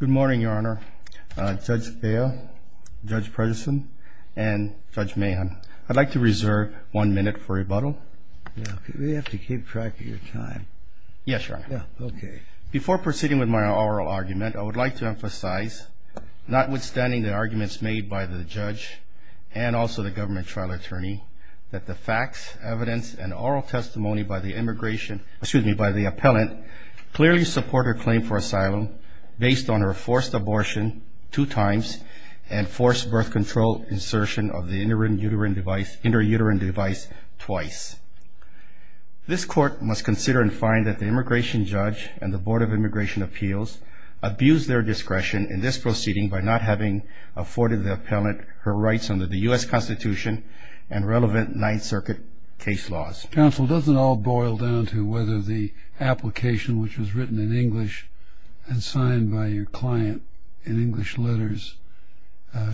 Good morning, Your Honor. Judge Thayer, Judge Prejeson, and Judge Mahan, I'd like to reserve one minute for rebuttal. We have to keep track of your time. Yes, Your Honor. Okay. Before proceeding with my oral argument, I would like to emphasize, notwithstanding the arguments made by the judge and also the government trial attorney, that the facts, evidence, and oral testimony by the appellant clearly support her claim for asylum based on her forced abortion two times and forced birth control insertion of the intrauterine device twice. This court must consider and find that the immigration judge and the Board of Immigration Appeals abused their discretion in this proceeding by not having afforded the appellant her rights under the U.S. Constitution and relevant Ninth Circuit case laws. Counsel, doesn't it all boil down to whether the application which was written in English and signed by your client in English letters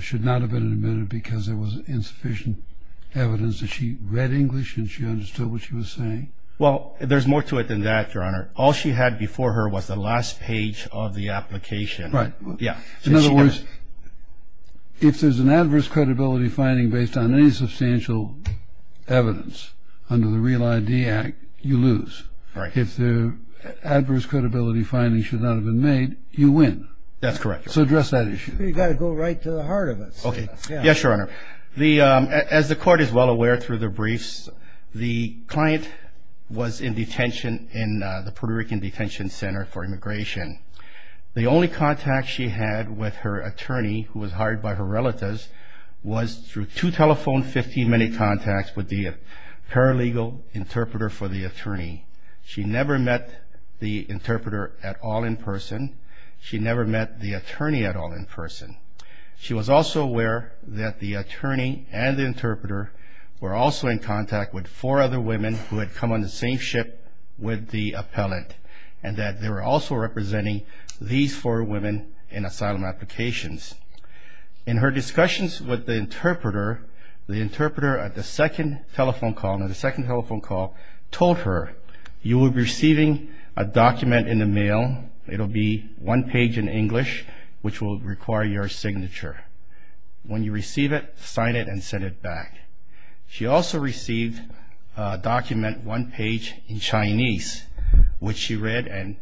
should not have been admitted because there was insufficient evidence that she read English and she understood what she was saying? Well, there's more to it than that, Your Honor. All she had before her was the last page of the application. Right. Yeah. In other words, if there's an adverse credibility finding based on any substantial evidence under the REAL ID Act, you lose. Right. If the adverse credibility finding should not have been made, you win. That's correct, Your Honor. So address that issue. You've got to go right to the heart of it. Okay. Yes, Your Honor. As the court is well aware through the briefs, the client was in detention in the Puerto Rican Detention Center for Immigration. The only contact she had with her attorney, who was hired by her relatives, was through two telephone 15-minute contacts with the paralegal interpreter for the attorney. She never met the interpreter at all in person. She never met the attorney at all in person. She was also aware that the attorney and the interpreter were also in contact with four other women who had come on the same ship with the appellant, and that they were also representing these four women in asylum applications. In her discussions with the interpreter, the interpreter at the second telephone call told her, you will be receiving a document in the mail. It will be one page in English, which will require your signature. When you receive it, sign it and send it back. She also received a document one page in Chinese, which she read and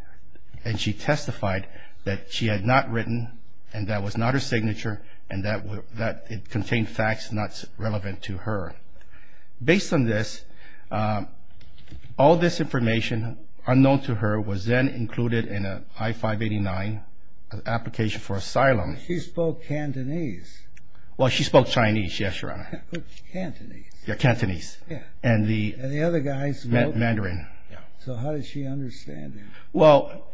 she testified that she had not written, and that was not her signature, and that it contained facts not relevant to her. Based on this, all this information unknown to her was then included in an I-589 application for asylum. She spoke Cantonese. Well, she spoke Chinese, yes, Your Honor. Cantonese. Yeah, Cantonese. Yeah. And the other guys spoke Mandarin. So how did she understand it? Well,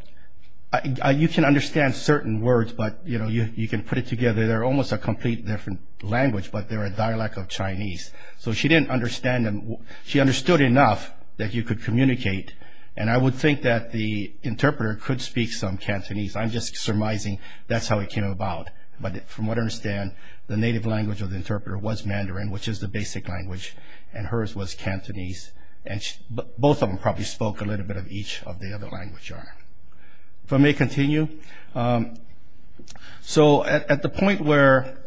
you can understand certain words, but, you know, you can put it together. They're almost a completely different language, but they're a dialect of Chinese. So she didn't understand them. She understood enough that you could communicate, and I would think that the interpreter could speak some Cantonese. I'm just surmising that's how it came about. But from what I understand, the native language of the interpreter was Mandarin, which is the basic language, and hers was Cantonese, and both of them probably spoke a little bit of each of the other languages, Your Honor. If I may continue. So at the point where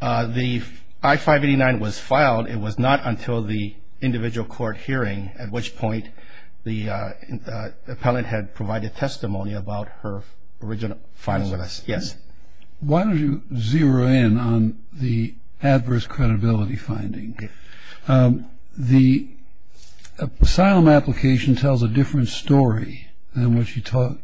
the I-589 was filed, it was not until the individual court hearing, at which point the appellant had provided testimony about her original filing with us. Yes. Why don't you zero in on the adverse credibility finding? The asylum application tells a different story than what she tells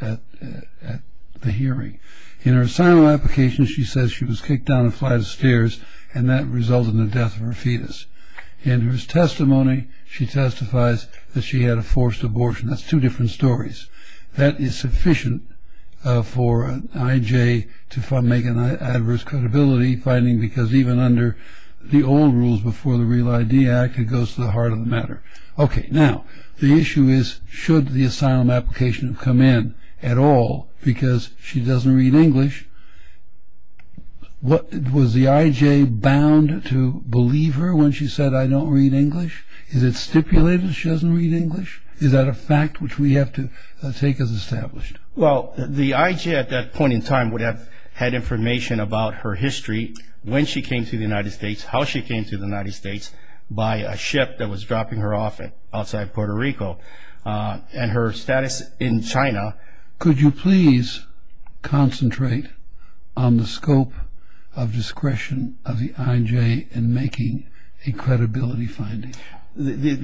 at the hearing. In her asylum application, she says she was kicked down a flight of stairs, and that resulted in the death of her fetus. In her testimony, she testifies that she had a forced abortion. That's two different stories. That is sufficient for an IJ to make an adverse credibility finding, because even under the old rules before the Real ID Act, it goes to the heart of the matter. Okay. Now, the issue is, should the asylum application come in at all, because she doesn't read English, was the IJ bound to believe her when she said, I don't read English? Is it stipulated she doesn't read English? Is that a fact which we have to take as established? Well, the IJ at that point in time would have had information about her history, when she came to the United States, how she came to the United States, by a ship that was dropping her off outside Puerto Rico, and her status in China. Could you please concentrate on the scope of discretion of the IJ in making a credibility finding? The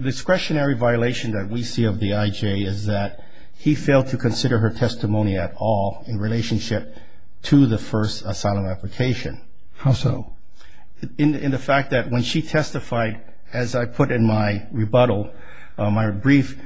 discretionary violation that we see of the IJ is that he failed to consider her testimony at all in relationship to the first asylum application. How so? In the fact that when she testified, as I put in my rebuttal, my brief,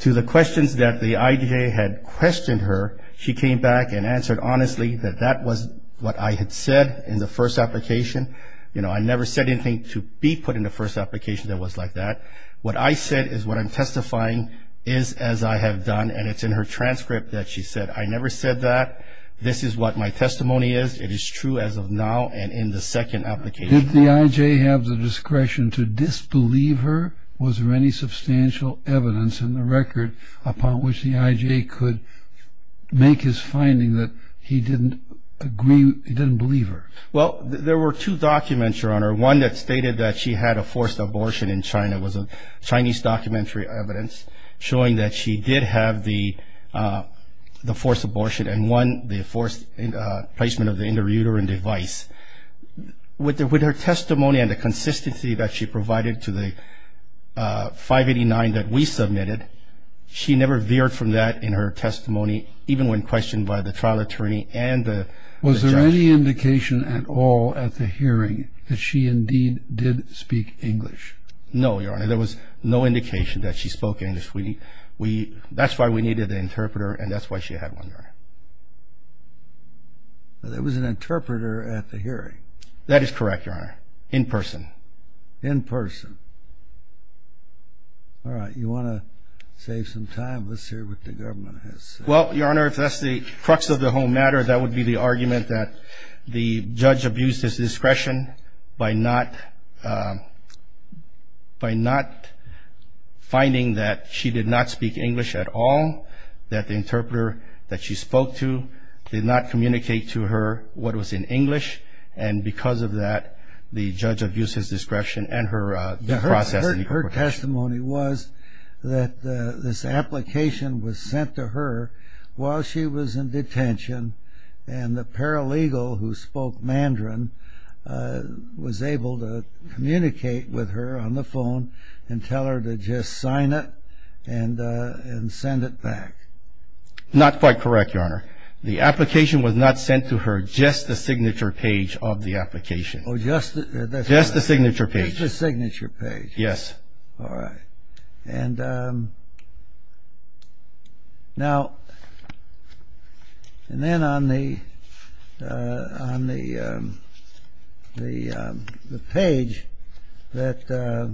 to the questions that the IJ had questioned her, she came back and answered honestly that that was what I had said in the first application. You know, I never said anything to be put in the first application that was like that. What I said is what I'm testifying is as I have done, and it's in her transcript that she said, I never said that. This is what my testimony is. It is true as of now and in the second application. Did the IJ have the discretion to disbelieve her? Was there any substantial evidence in the record upon which the IJ could make his finding that he didn't believe her? Well, there were two documents, Your Honor. One that stated that she had a forced abortion in China. It was a Chinese documentary evidence showing that she did have the forced abortion and won the forced placement of the intrauterine device. With her testimony and the consistency that she provided to the 589 that we submitted, she never veered from that in her testimony, even when questioned by the trial attorney and the judge. Was there any indication at all at the hearing that she indeed did speak English? No, Your Honor. There was no indication that she spoke English. That's why we needed an interpreter, and that's why she had one, Your Honor. There was an interpreter at the hearing. That is correct, Your Honor, in person. In person. All right. You want to save some time? Let's hear what the government has to say. Well, Your Honor, if that's the crux of the whole matter, that would be the argument that the judge abused his discretion by not finding that she did not speak English at all, that the interpreter that she spoke to did not communicate to her what was in English, and because of that, the judge abused his discretion and her process of interpretation. Her testimony was that this application was sent to her while she was in detention, and the paralegal who spoke Mandarin was able to communicate with her on the phone and tell her to just sign it and send it back. Not quite correct, Your Honor. The application was not sent to her, just the signature page of the application. Just the signature page. Just the signature page. Yes. All right. Now, and then on the page that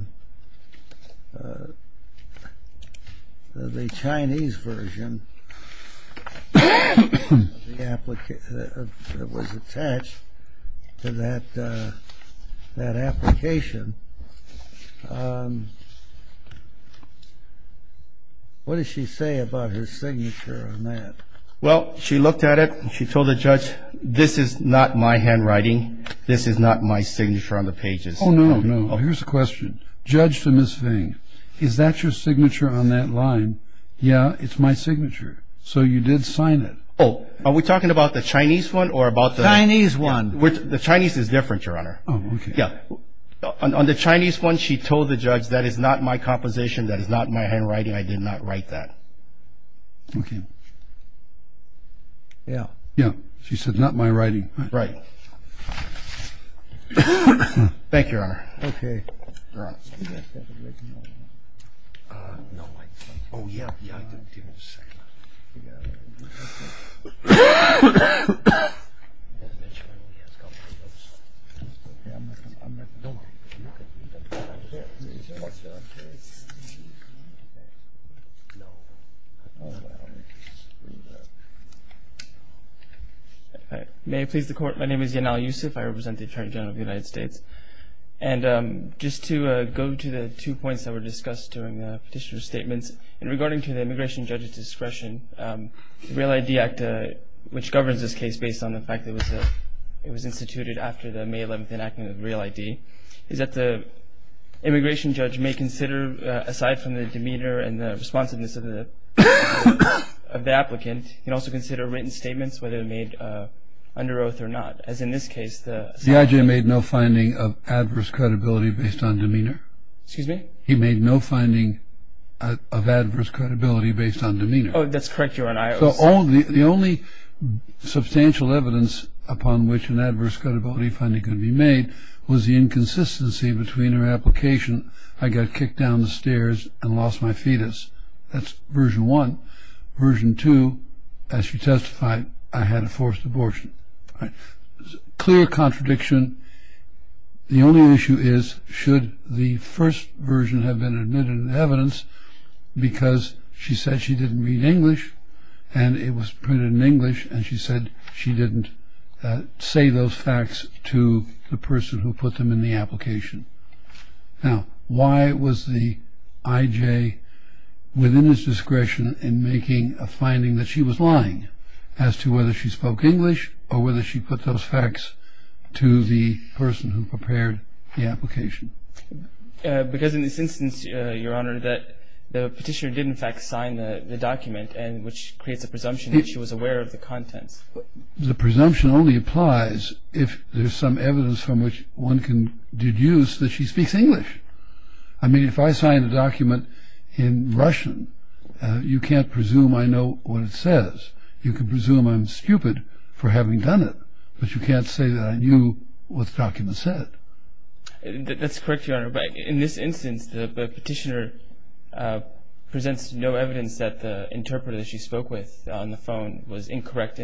the Chinese version that was attached to that application, what did she say about her signature on that? Well, she looked at it, and she told the judge, this is not my handwriting, this is not my signature on the pages. Oh, no, no. Here's the question. Judge to Ms. Vang, is that your signature on that line? Yeah, it's my signature. So you did sign it. Oh, are we talking about the Chinese one or about the – Chinese one. The Chinese is different, Your Honor. Oh, okay. On the Chinese one, she told the judge, that is not my composition, that is not my handwriting, I did not write that. Okay. Yeah. Yeah, she said, not my writing. Right. Thank you, Your Honor. Okay. All right. May it please the Court, my name is Yanal Yusuf, I represent the Attorney General of the United States. And just to go to the two points that were discussed during the petitioner's statements, and regarding to the immigration judge's discretion, the Real ID Act, which governs this case based on the fact that it was instituted after the May 11th enactment of Real ID, is that the immigration judge may consider, aside from the demeanor and the responsiveness of the applicant, he can also consider written statements, whether they're made under oath or not, as in this case. The IJ made no finding of adverse credibility based on demeanor. Excuse me? He made no finding of adverse credibility based on demeanor. Oh, that's correct, Your Honor. So the only substantial evidence upon which an adverse credibility finding could be made was the inconsistency between her application, I got kicked down the stairs and lost my fetus. That's version one. Version two, as she testified, I had a forced abortion. Clear contradiction. The only issue is should the first version have been admitted in evidence because she said she didn't read English and it was printed in English and she said she didn't say those facts to the person who put them in the application. Now, why was the IJ within his discretion in making a finding that she was lying as to whether she spoke English or whether she put those facts to the person who prepared the application? Because in this instance, Your Honor, the petitioner did in fact sign the document which creates a presumption that she was aware of the contents. The presumption only applies if there's some evidence from which one can deduce that she speaks English. I mean, if I sign a document in Russian, you can't presume I know what it says. You can presume I'm stupid for having done it, but you can't say that I knew what the document said. That's correct, Your Honor, but in this instance, the petitioner presents no evidence that the interpreter that she spoke with on the phone was incorrect.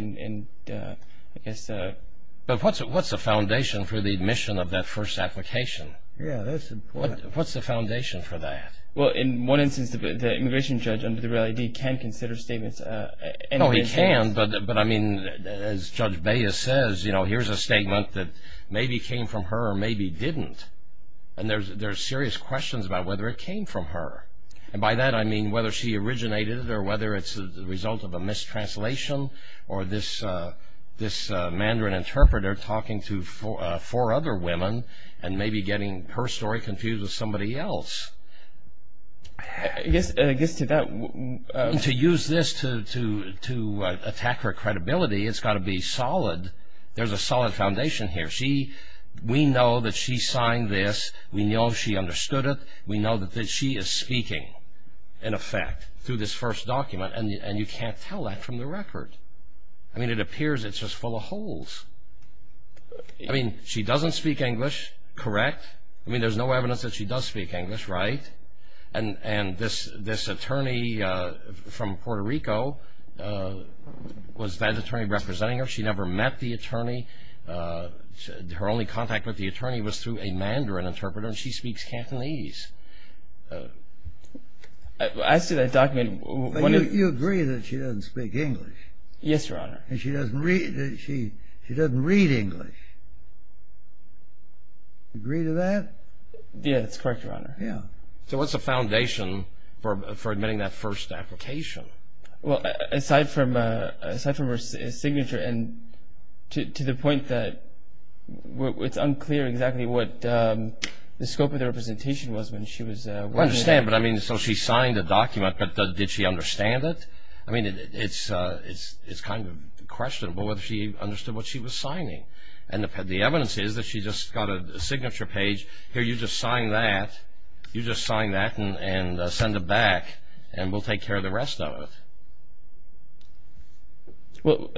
But what's the foundation for the admission of that first application? Yeah, that's important. What's the foundation for that? Well, in one instance, the immigration judge under the Real ID can consider statements. No, he can't, but I mean, as Judge Baez says, here's a statement that maybe came from her or maybe didn't, and there's serious questions about whether it came from her. And by that, I mean whether she originated it or whether it's the result of a mistranslation or this Mandarin interpreter talking to four other women and maybe getting her story confused with somebody else. I guess to that... To use this to attack her credibility, it's got to be solid. There's a solid foundation here. We know that she signed this. We know she understood it. We know that she is speaking, in effect, through this first document, and you can't tell that from the record. I mean, it appears it's just full of holes. I mean, she doesn't speak English, correct? I mean, there's no evidence that she does speak English, right? And this attorney from Puerto Rico, was that attorney representing her? She never met the attorney. Her only contact with the attorney was through a Mandarin interpreter, and she speaks Cantonese. As to that document... But you agree that she doesn't speak English. Yes, Your Honor. And she doesn't read English. Agree to that? Yes, that's correct, Your Honor. So what's the foundation for admitting that first application? Well, aside from her signature, and to the point that it's unclear exactly what the scope of the representation was when she was... I understand, but I mean, so she signed a document, but did she understand it? And the evidence is that she just got a signature page. Here, you just sign that. You just sign that and send it back, and we'll take care of the rest of it. Well,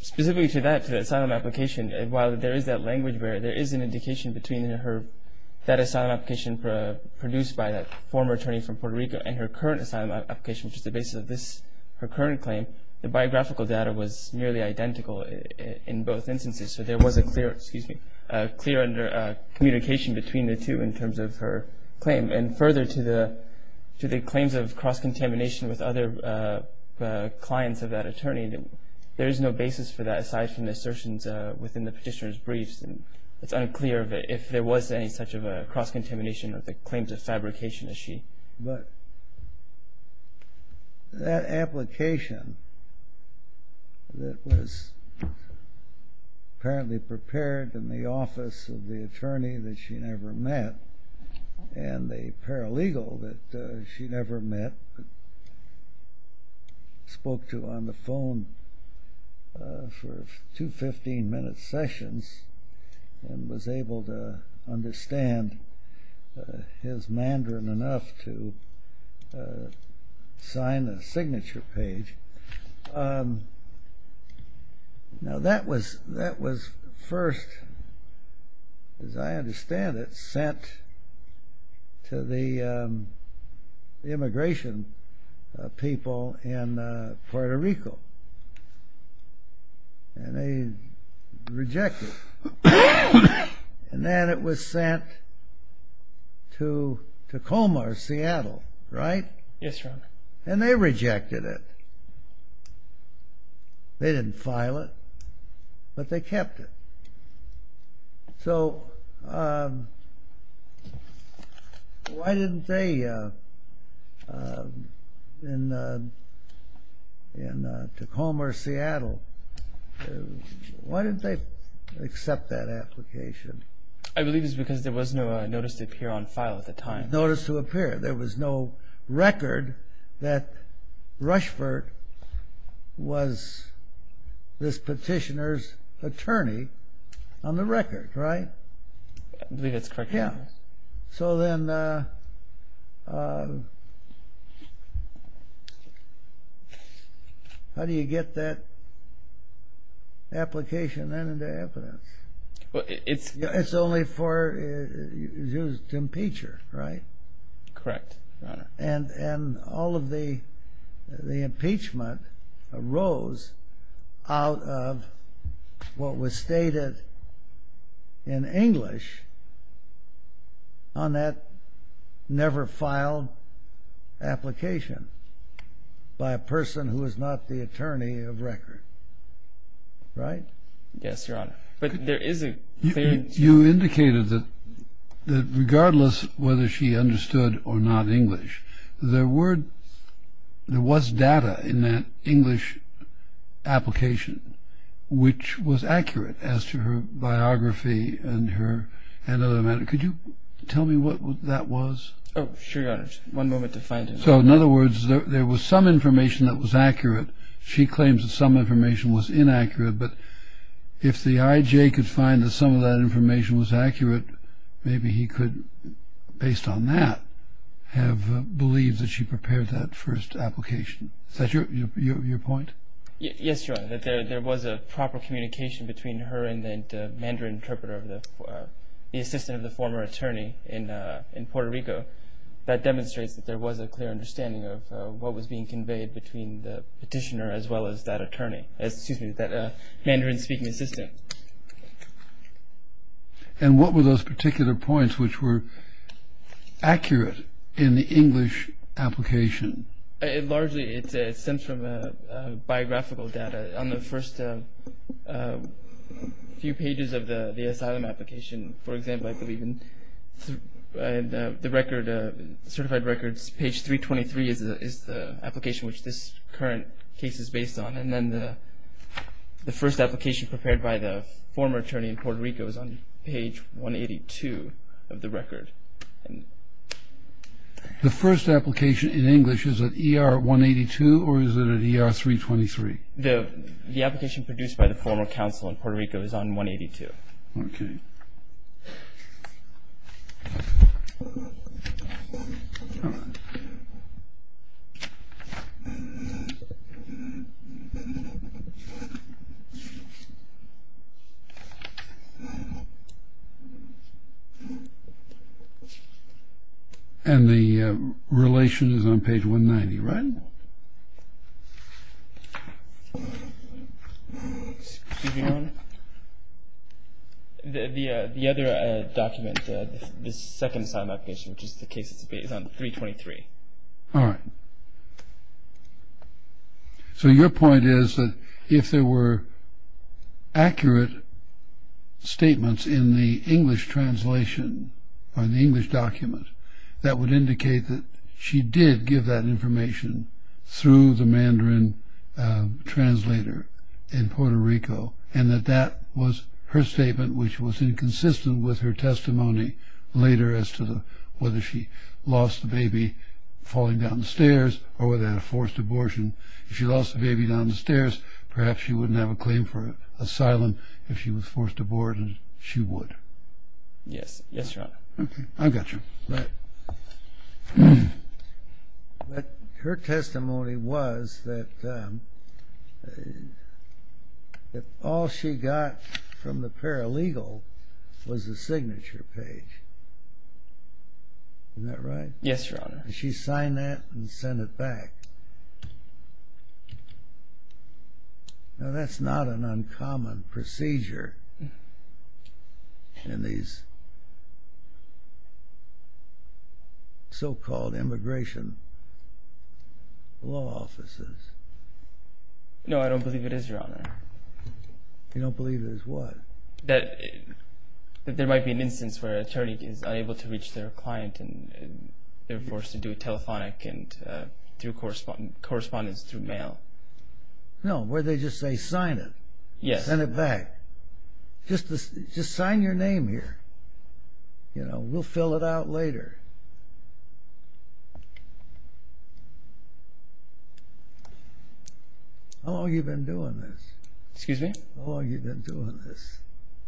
specifically to that, to the asylum application, while there is that language there, there is an indication between her... that asylum application produced by that former attorney from Puerto Rico and her current asylum application, which is the basis of her current claim, the biographical data was nearly identical in both instances, so there was a clear communication between the two in terms of her claim. And further to the claims of cross-contamination with other clients of that attorney, there is no basis for that aside from the assertions within the petitioner's briefs. It's unclear if there was any such cross-contamination with the claims of fabrication that she... But that application that was apparently prepared in the office of the attorney that she never met and the paralegal that she never met, spoke to on the phone for two 15-minute sessions and was able to understand his Mandarin enough to sign a signature page. Now that was first, as I understand it, sent to the immigration people in Puerto Rico. And they rejected it. And then it was sent to Tacoma or Seattle, right? Yes, Your Honor. And they rejected it. They didn't file it, but they kept it. So why didn't they in Tacoma or Seattle, why didn't they accept that application? I believe it's because there was no notice to appear on file at the time. Notice to appear. There was no record that Rushford was this petitioner's attorney on the record, right? I believe that's correct, Your Honor. Yeah. So then how do you get that application then into evidence? It's... It's only used to impeach her, right? Correct, Your Honor. And all of the impeachment arose out of what was stated in English on that never-filed application by a person who is not the attorney of record, right? Yes, Your Honor. But there is a clear... You indicated that regardless whether she understood or not English, there was data in that English application, which was accurate as to her biography and her... Could you tell me what that was? Oh, sure, Your Honor. Just one moment to find it. So in other words, there was some information that was accurate. She claims that some information was inaccurate, but if the I.J. could find that some of that information was accurate, maybe he could, based on that, have believed that she prepared that first application. Is that your point? Yes, Your Honor. There was a proper communication between her and that Mandarin interpreter, the assistant of the former attorney in Puerto Rico. That demonstrates that there was a clear understanding of what was being conveyed between the petitioner as well as that attorney. Excuse me, that Mandarin-speaking assistant. And what were those particular points which were accurate in the English application? Largely, it stems from biographical data. On the first few pages of the asylum application, for example, I believe, in the certified records, page 323 is the application which this current case is based on, and then the first application prepared by the former attorney in Puerto Rico is on page 182 of the record. The first application in English is at ER 182 or is it at ER 323? The application produced by the former counsel in Puerto Rico is on 182. Okay. And the relation is on page 190, right? No. Excuse me, Your Honor. The other document, the second asylum application, which is the case that's based on 323. All right. So your point is that if there were accurate statements in the English translation or in the English document, that would indicate that she did give that information through the Mandarin translator in Puerto Rico and that that was her statement which was inconsistent with her testimony later as to whether she lost the baby falling down the stairs or whether they had a forced abortion. If she lost the baby down the stairs, perhaps she wouldn't have a claim for asylum. If she was forced to abort, she would. Yes. Yes, Your Honor. Okay. I got you. But her testimony was that all she got from the paralegal was a signature page. Isn't that right? Yes, Your Honor. And she signed that and sent it back. Now that's not an uncommon procedure in these so-called immigration law offices. No, I don't believe it is, Your Honor. You don't believe it is what? That there might be an instance where an attorney is unable to reach their client and they're forced to do a telephonic and through correspondence through mail. No, where they just say sign it. Yes. Send it back. Just sign your name here. We'll fill it out later. How long have you been doing this? How long have you been doing this?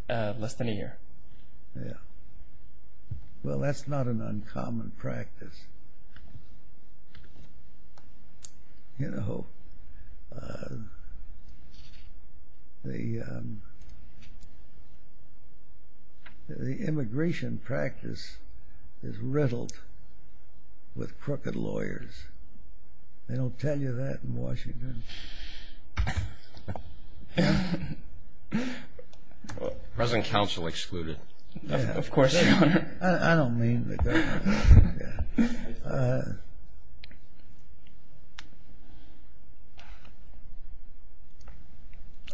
Less than a year. Yeah. Well, that's not an uncommon practice. You know, the immigration practice is riddled with crooked lawyers. They don't tell you that in Washington. President Counsel excluded. Of course, Your Honor. I don't mean to go there.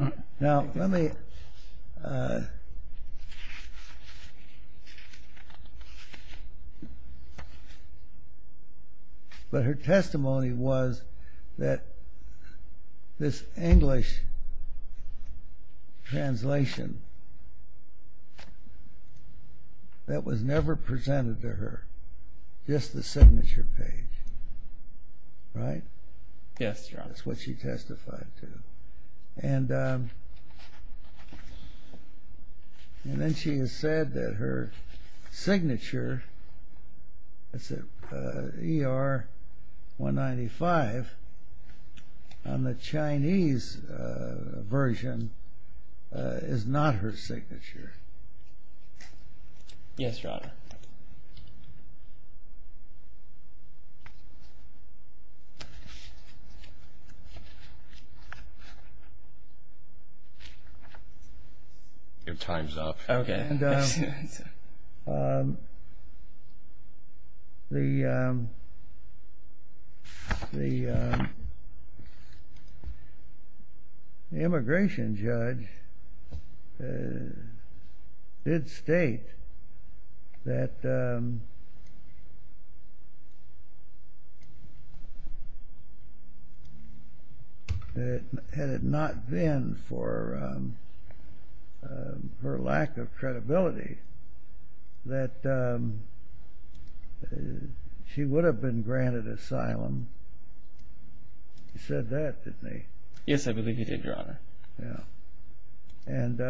Okay. Now, let me. But her testimony was that this English translation that was never presented to her, just the signature page, right? Yes, Your Honor. That's what she testified to. And then she has said that her signature, ER-195, on the Chinese version is not her signature. Yes, Your Honor. Your time's up. Okay. And the immigration judge did state that had it not been for her lack of credibility that she would have been granted asylum. He said that, didn't he? Yes, I believe he did, Your Honor. Yeah. And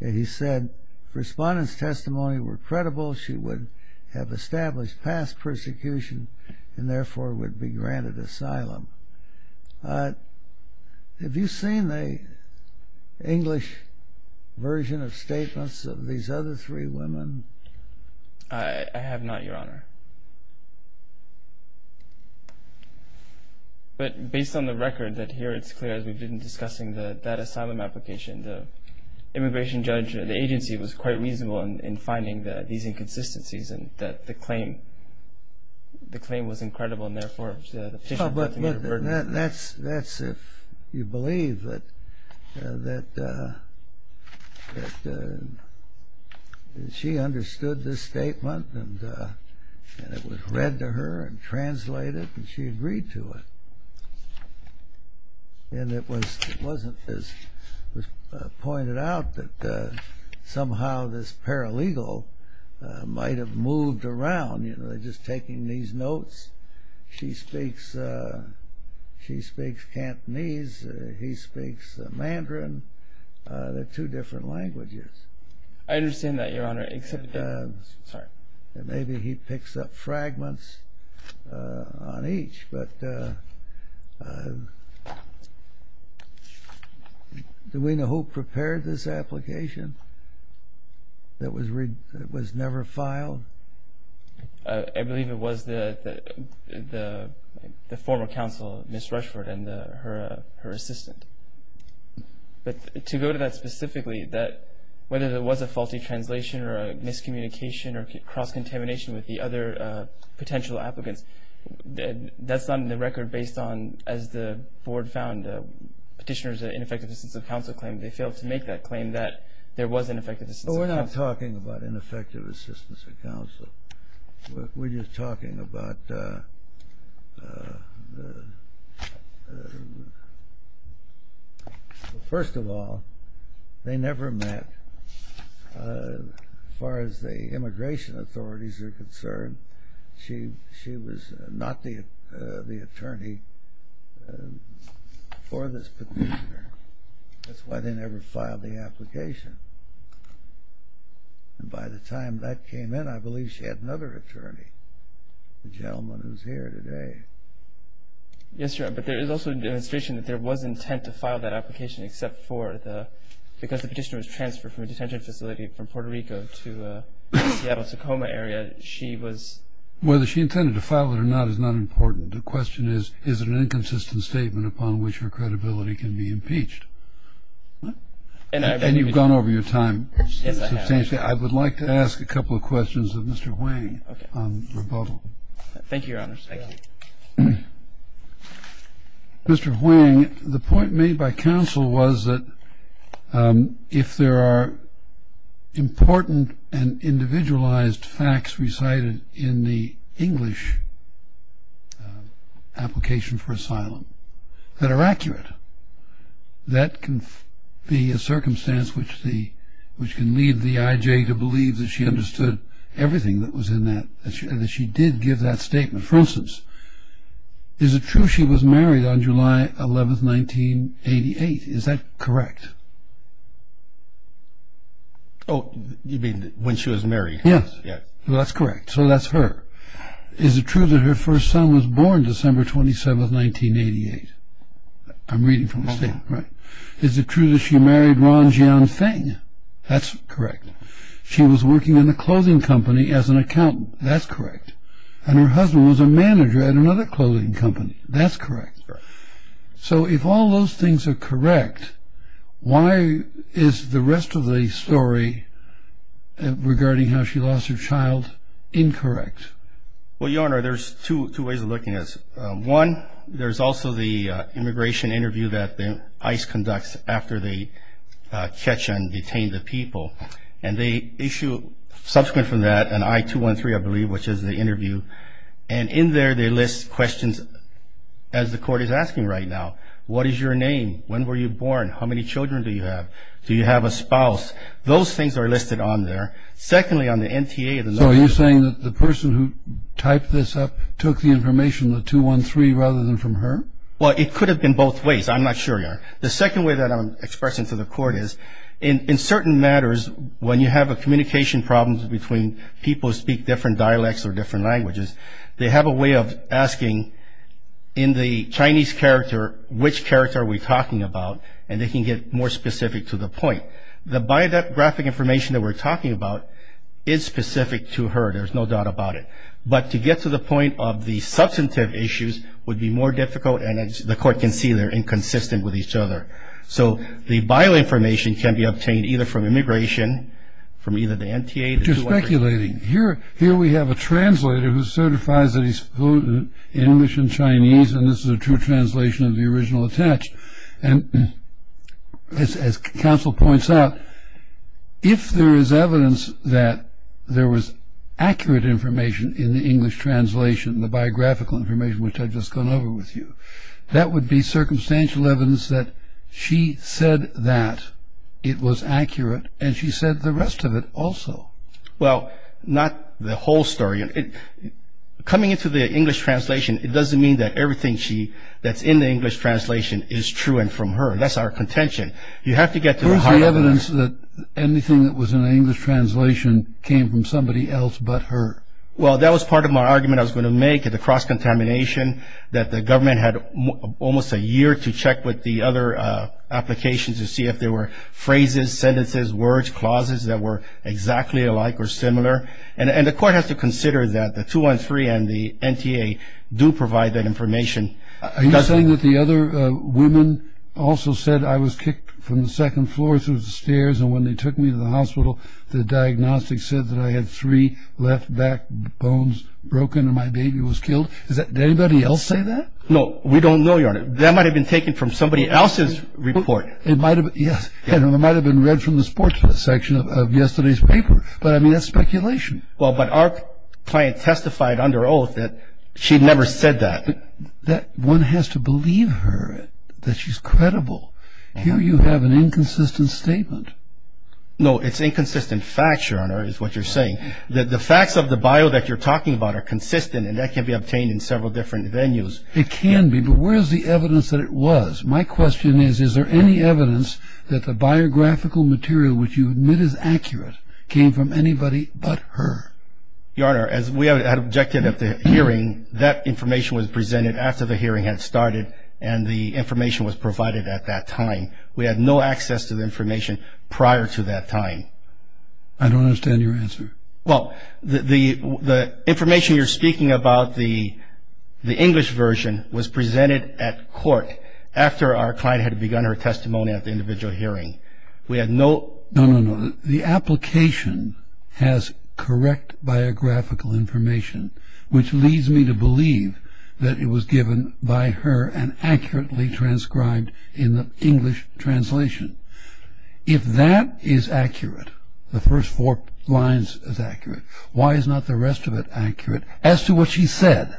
he said, testimony were credible, she would have established past persecution, and therefore would be granted asylum. Have you seen the English version of statements of these other three women? I have not, Your Honor. But based on the record, that here it's clear, as we've been discussing, that that asylum application, the immigration judge, the agency, was quite reasonable in finding these inconsistencies, and that the claim was incredible, and therefore the petition brought to me a burden. That's if you believe that she understood this statement, and it was read to her and translated, and she agreed to it. And it was pointed out that somehow this paralegal might have moved around, you know, just taking these notes. She speaks Cantonese, he speaks Mandarin. They're two different languages. I understand that, Your Honor. Maybe he picks up fragments on each, but do we know who prepared this application that was never filed? I believe it was the former counsel, Ms. Rushford, and her assistant. But to go to that specifically, that whether there was a faulty translation or a miscommunication or cross-contamination with the other potential applicants, that's on the record based on, as the board found, petitioner's ineffective assistance of counsel claim. They failed to make that claim that there was ineffective assistance of counsel. But we're not talking about ineffective assistance of counsel. We're just talking about the first of all, they never met. As far as the immigration authorities are concerned, she was not the attorney for this petitioner. That's why they never filed the application. And by the time that came in, I believe she had another attorney, the gentleman who's here today. Yes, Your Honor, but there is also a demonstration that there was intent to file that application except for the, because the petitioner was transferred from a detention facility from Puerto Rico to the Seattle-Tacoma area, she was. Whether she intended to file it or not is not important. The question is, is it an inconsistent statement upon which her credibility can be impeached? And you've gone over your time. Yes, I have. I would like to ask a couple of questions of Mr. Huang on rebuttal. Thank you, Your Honor. Mr. Huang, the point made by counsel was that if there are important and individualized facts recited in the English application for asylum that are accurate, that can be a circumstance which can lead the IJ to believe that she understood everything that was in that, and that she did give that statement. For instance, is it true she was married on July 11, 1988? Is that correct? Oh, you mean when she was married? Yes, that's correct. So that's her. Is it true that her first son was born December 27, 1988? I'm reading from the statement. Right. Is it true that she married Ron Jian Feng? That's correct. She was working in a clothing company as an accountant. That's correct. And her husband was a manager at another clothing company. That's correct. So if all those things are correct, why is the rest of the story regarding how she lost her child incorrect? Well, Your Honor, there's two ways of looking at it. One, there's also the immigration interview that ICE conducts after they catch and detain the people. And they issue, subsequent from that, an I-213, I believe, which is the interview. And in there they list questions, as the Court is asking right now. What is your name? When were you born? How many children do you have? Do you have a spouse? Those things are listed on there. Secondly, on the NTA, the number of children. The person who typed this up took the information, the 213, rather than from her? Well, it could have been both ways. I'm not sure, Your Honor. The second way that I'm expressing to the Court is, in certain matters, when you have a communication problem between people who speak different dialects or different languages, they have a way of asking in the Chinese character which character are we talking about, and they can get more specific to the point. The biographic information that we're talking about is specific to her. There's no doubt about it. But to get to the point of the substantive issues would be more difficult, and the Court can see they're inconsistent with each other. So the bioinformation can be obtained either from immigration, from either the NTA, the 213. You're speculating. Here we have a translator who certifies that he's fluent in English and Chinese, and this is a true translation of the original attached. And as counsel points out, if there is evidence that there was accurate information in the English translation, the biographical information which I've just gone over with you, that would be circumstantial evidence that she said that it was accurate, and she said the rest of it also. Well, not the whole story. Coming into the English translation, it doesn't mean that everything that's in the English translation is true and from her. That's our contention. You have to get to the heart of it. Where's the evidence that anything that was in the English translation came from somebody else but her? Well, that was part of my argument I was going to make at the cross-contamination, that the government had almost a year to check with the other applications to see if there were phrases, sentences, words, clauses that were exactly alike or similar. And the court has to consider that the 213 and the NTA do provide that information. Are you saying that the other women also said I was kicked from the second floor through the stairs and when they took me to the hospital, the diagnostics said that I had three left back bones broken and my baby was killed? Did anybody else say that? No. We don't know, Your Honor. That might have been taken from somebody else's report. Yes. And it might have been read from the sports section of yesterday's paper. But, I mean, that's speculation. Well, but our client testified under oath that she'd never said that. One has to believe her, that she's credible. Here you have an inconsistent statement. No, it's inconsistent facts, Your Honor, is what you're saying. The facts of the bio that you're talking about are consistent, and that can be obtained in several different venues. It can be, but where is the evidence that it was? My question is, is there any evidence that the biographical material, which you admit is accurate, came from anybody but her? Your Honor, as we had objected at the hearing, that information was presented after the hearing had started and the information was provided at that time. We had no access to the information prior to that time. I don't understand your answer. Well, the information you're speaking about, the English version, was presented at court after our client had begun her testimony at the individual hearing. We had no... No, no, no. The application has correct biographical information, which leads me to believe that it was given by her and accurately transcribed in the English translation. If that is accurate, the first four lines is accurate, why is not the rest of it accurate as to what she said?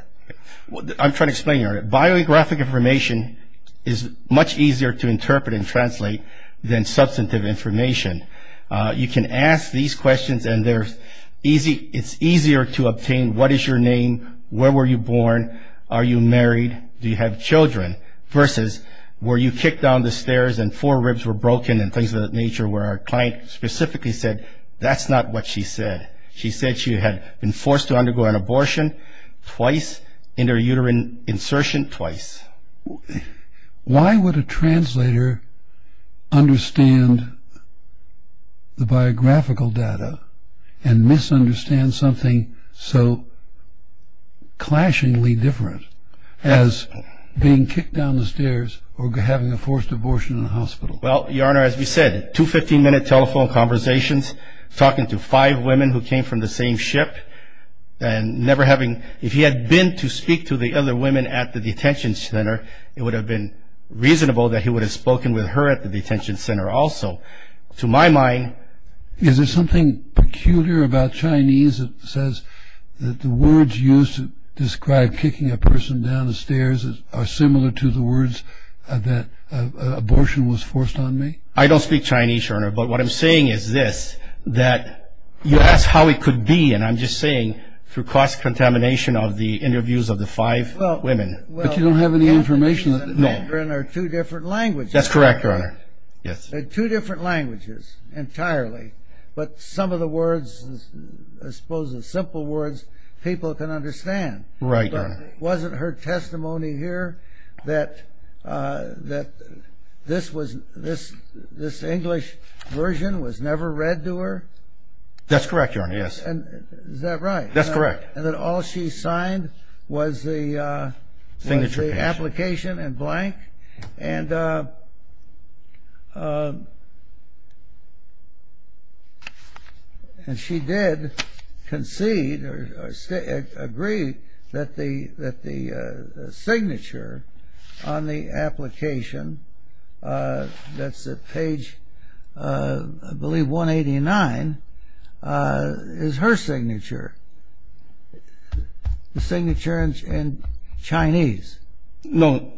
I'm trying to explain, Your Honor. Biographic information is much easier to interpret and translate than substantive information. You can ask these questions and it's easier to obtain what is your name, where were you born, are you married, do you have children, versus were you kicked down the stairs and four ribs were broken and things of that nature where our client specifically said that's not what she said. She said she had been forced to undergo an abortion twice, inter-uterine insertion twice. Why would a translator understand the biographical data and misunderstand something so clashingly different as being kicked down the stairs or having a forced abortion in a hospital? Well, Your Honor, as we said, two 15-minute telephone conversations, talking to five women who came from the same ship and never having... If he had been to speak to the other women at the detention center, it would have been reasonable that he would have spoken with her at the detention center also. To my mind... Is there something peculiar about Chinese that says that the words used to describe kicking a person down the stairs are similar to the words that abortion was forced on me? I don't speak Chinese, Your Honor, but what I'm saying is this, that you ask how it could be, and I'm just saying, through cross-contamination of the interviews of the five women... But you don't have any information... No. ...are two different languages. That's correct, Your Honor. Yes. They're two different languages entirely, but some of the words, I suppose the simple words, people can understand. Right, Your Honor. Wasn't her testimony here that this English version was never read to her? That's correct, Your Honor, yes. Is that right? That's correct. And that all she signed was the... Signature page. The application in blank, and she did concede or agree that the signature on the application, that's at page, I believe, 189, is her signature, the signature in Chinese. No,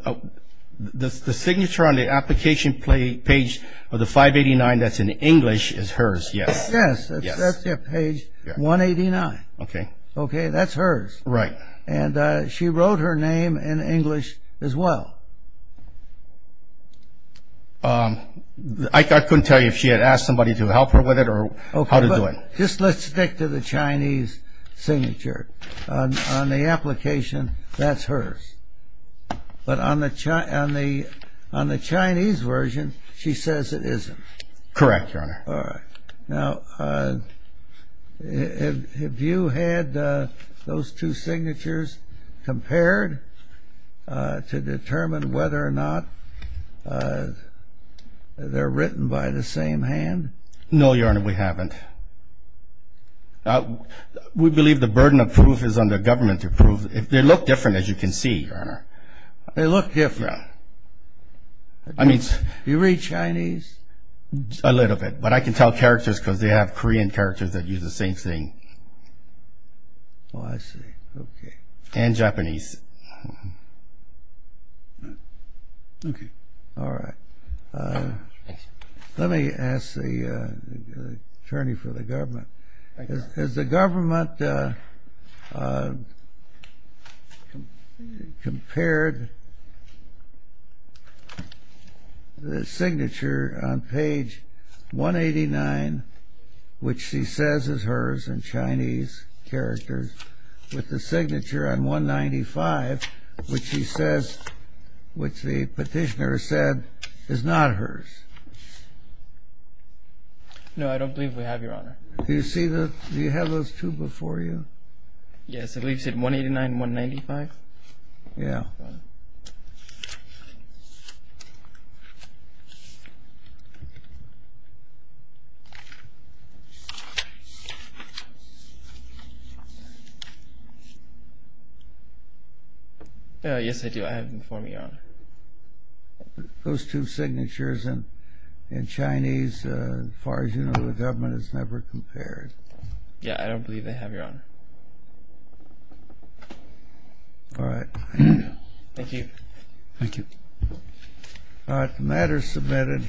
the signature on the application page of the 589 that's in English is hers, yes. Yes, that's at page 189. Okay. Okay, that's hers. Right. And she wrote her name in English as well. I couldn't tell you if she had asked somebody to help her with it or how to do it. Okay, but just let's stick to the Chinese signature. On the application, that's hers, but on the Chinese version, she says it isn't. Correct, Your Honor. All right. Now, have you had those two signatures compared to determine whether or not they're written by the same hand? No, Your Honor, we haven't. We believe the burden of proof is under government to prove. They look different, as you can see, Your Honor. They look different. Do you read Chinese? A little bit, but I can tell characters because they have Korean characters that use the same thing. Oh, I see, okay. And Japanese. Okay. All right. Let me ask the attorney for the government. Has the government compared the signature on page 189, which she says is hers in Chinese characters, with the signature on 195, which the petitioner said is not hers? No, I don't believe we have, Your Honor. Do you have those two before you? Yes, I believe you said 189 and 195. Yeah. Yes, I do. I have them before me, Your Honor. Those two signatures in Chinese, as far as you know, the government has never compared. Yeah, I don't believe they have, Your Honor. All right. Thank you. Thank you. All right, the matter is submitted.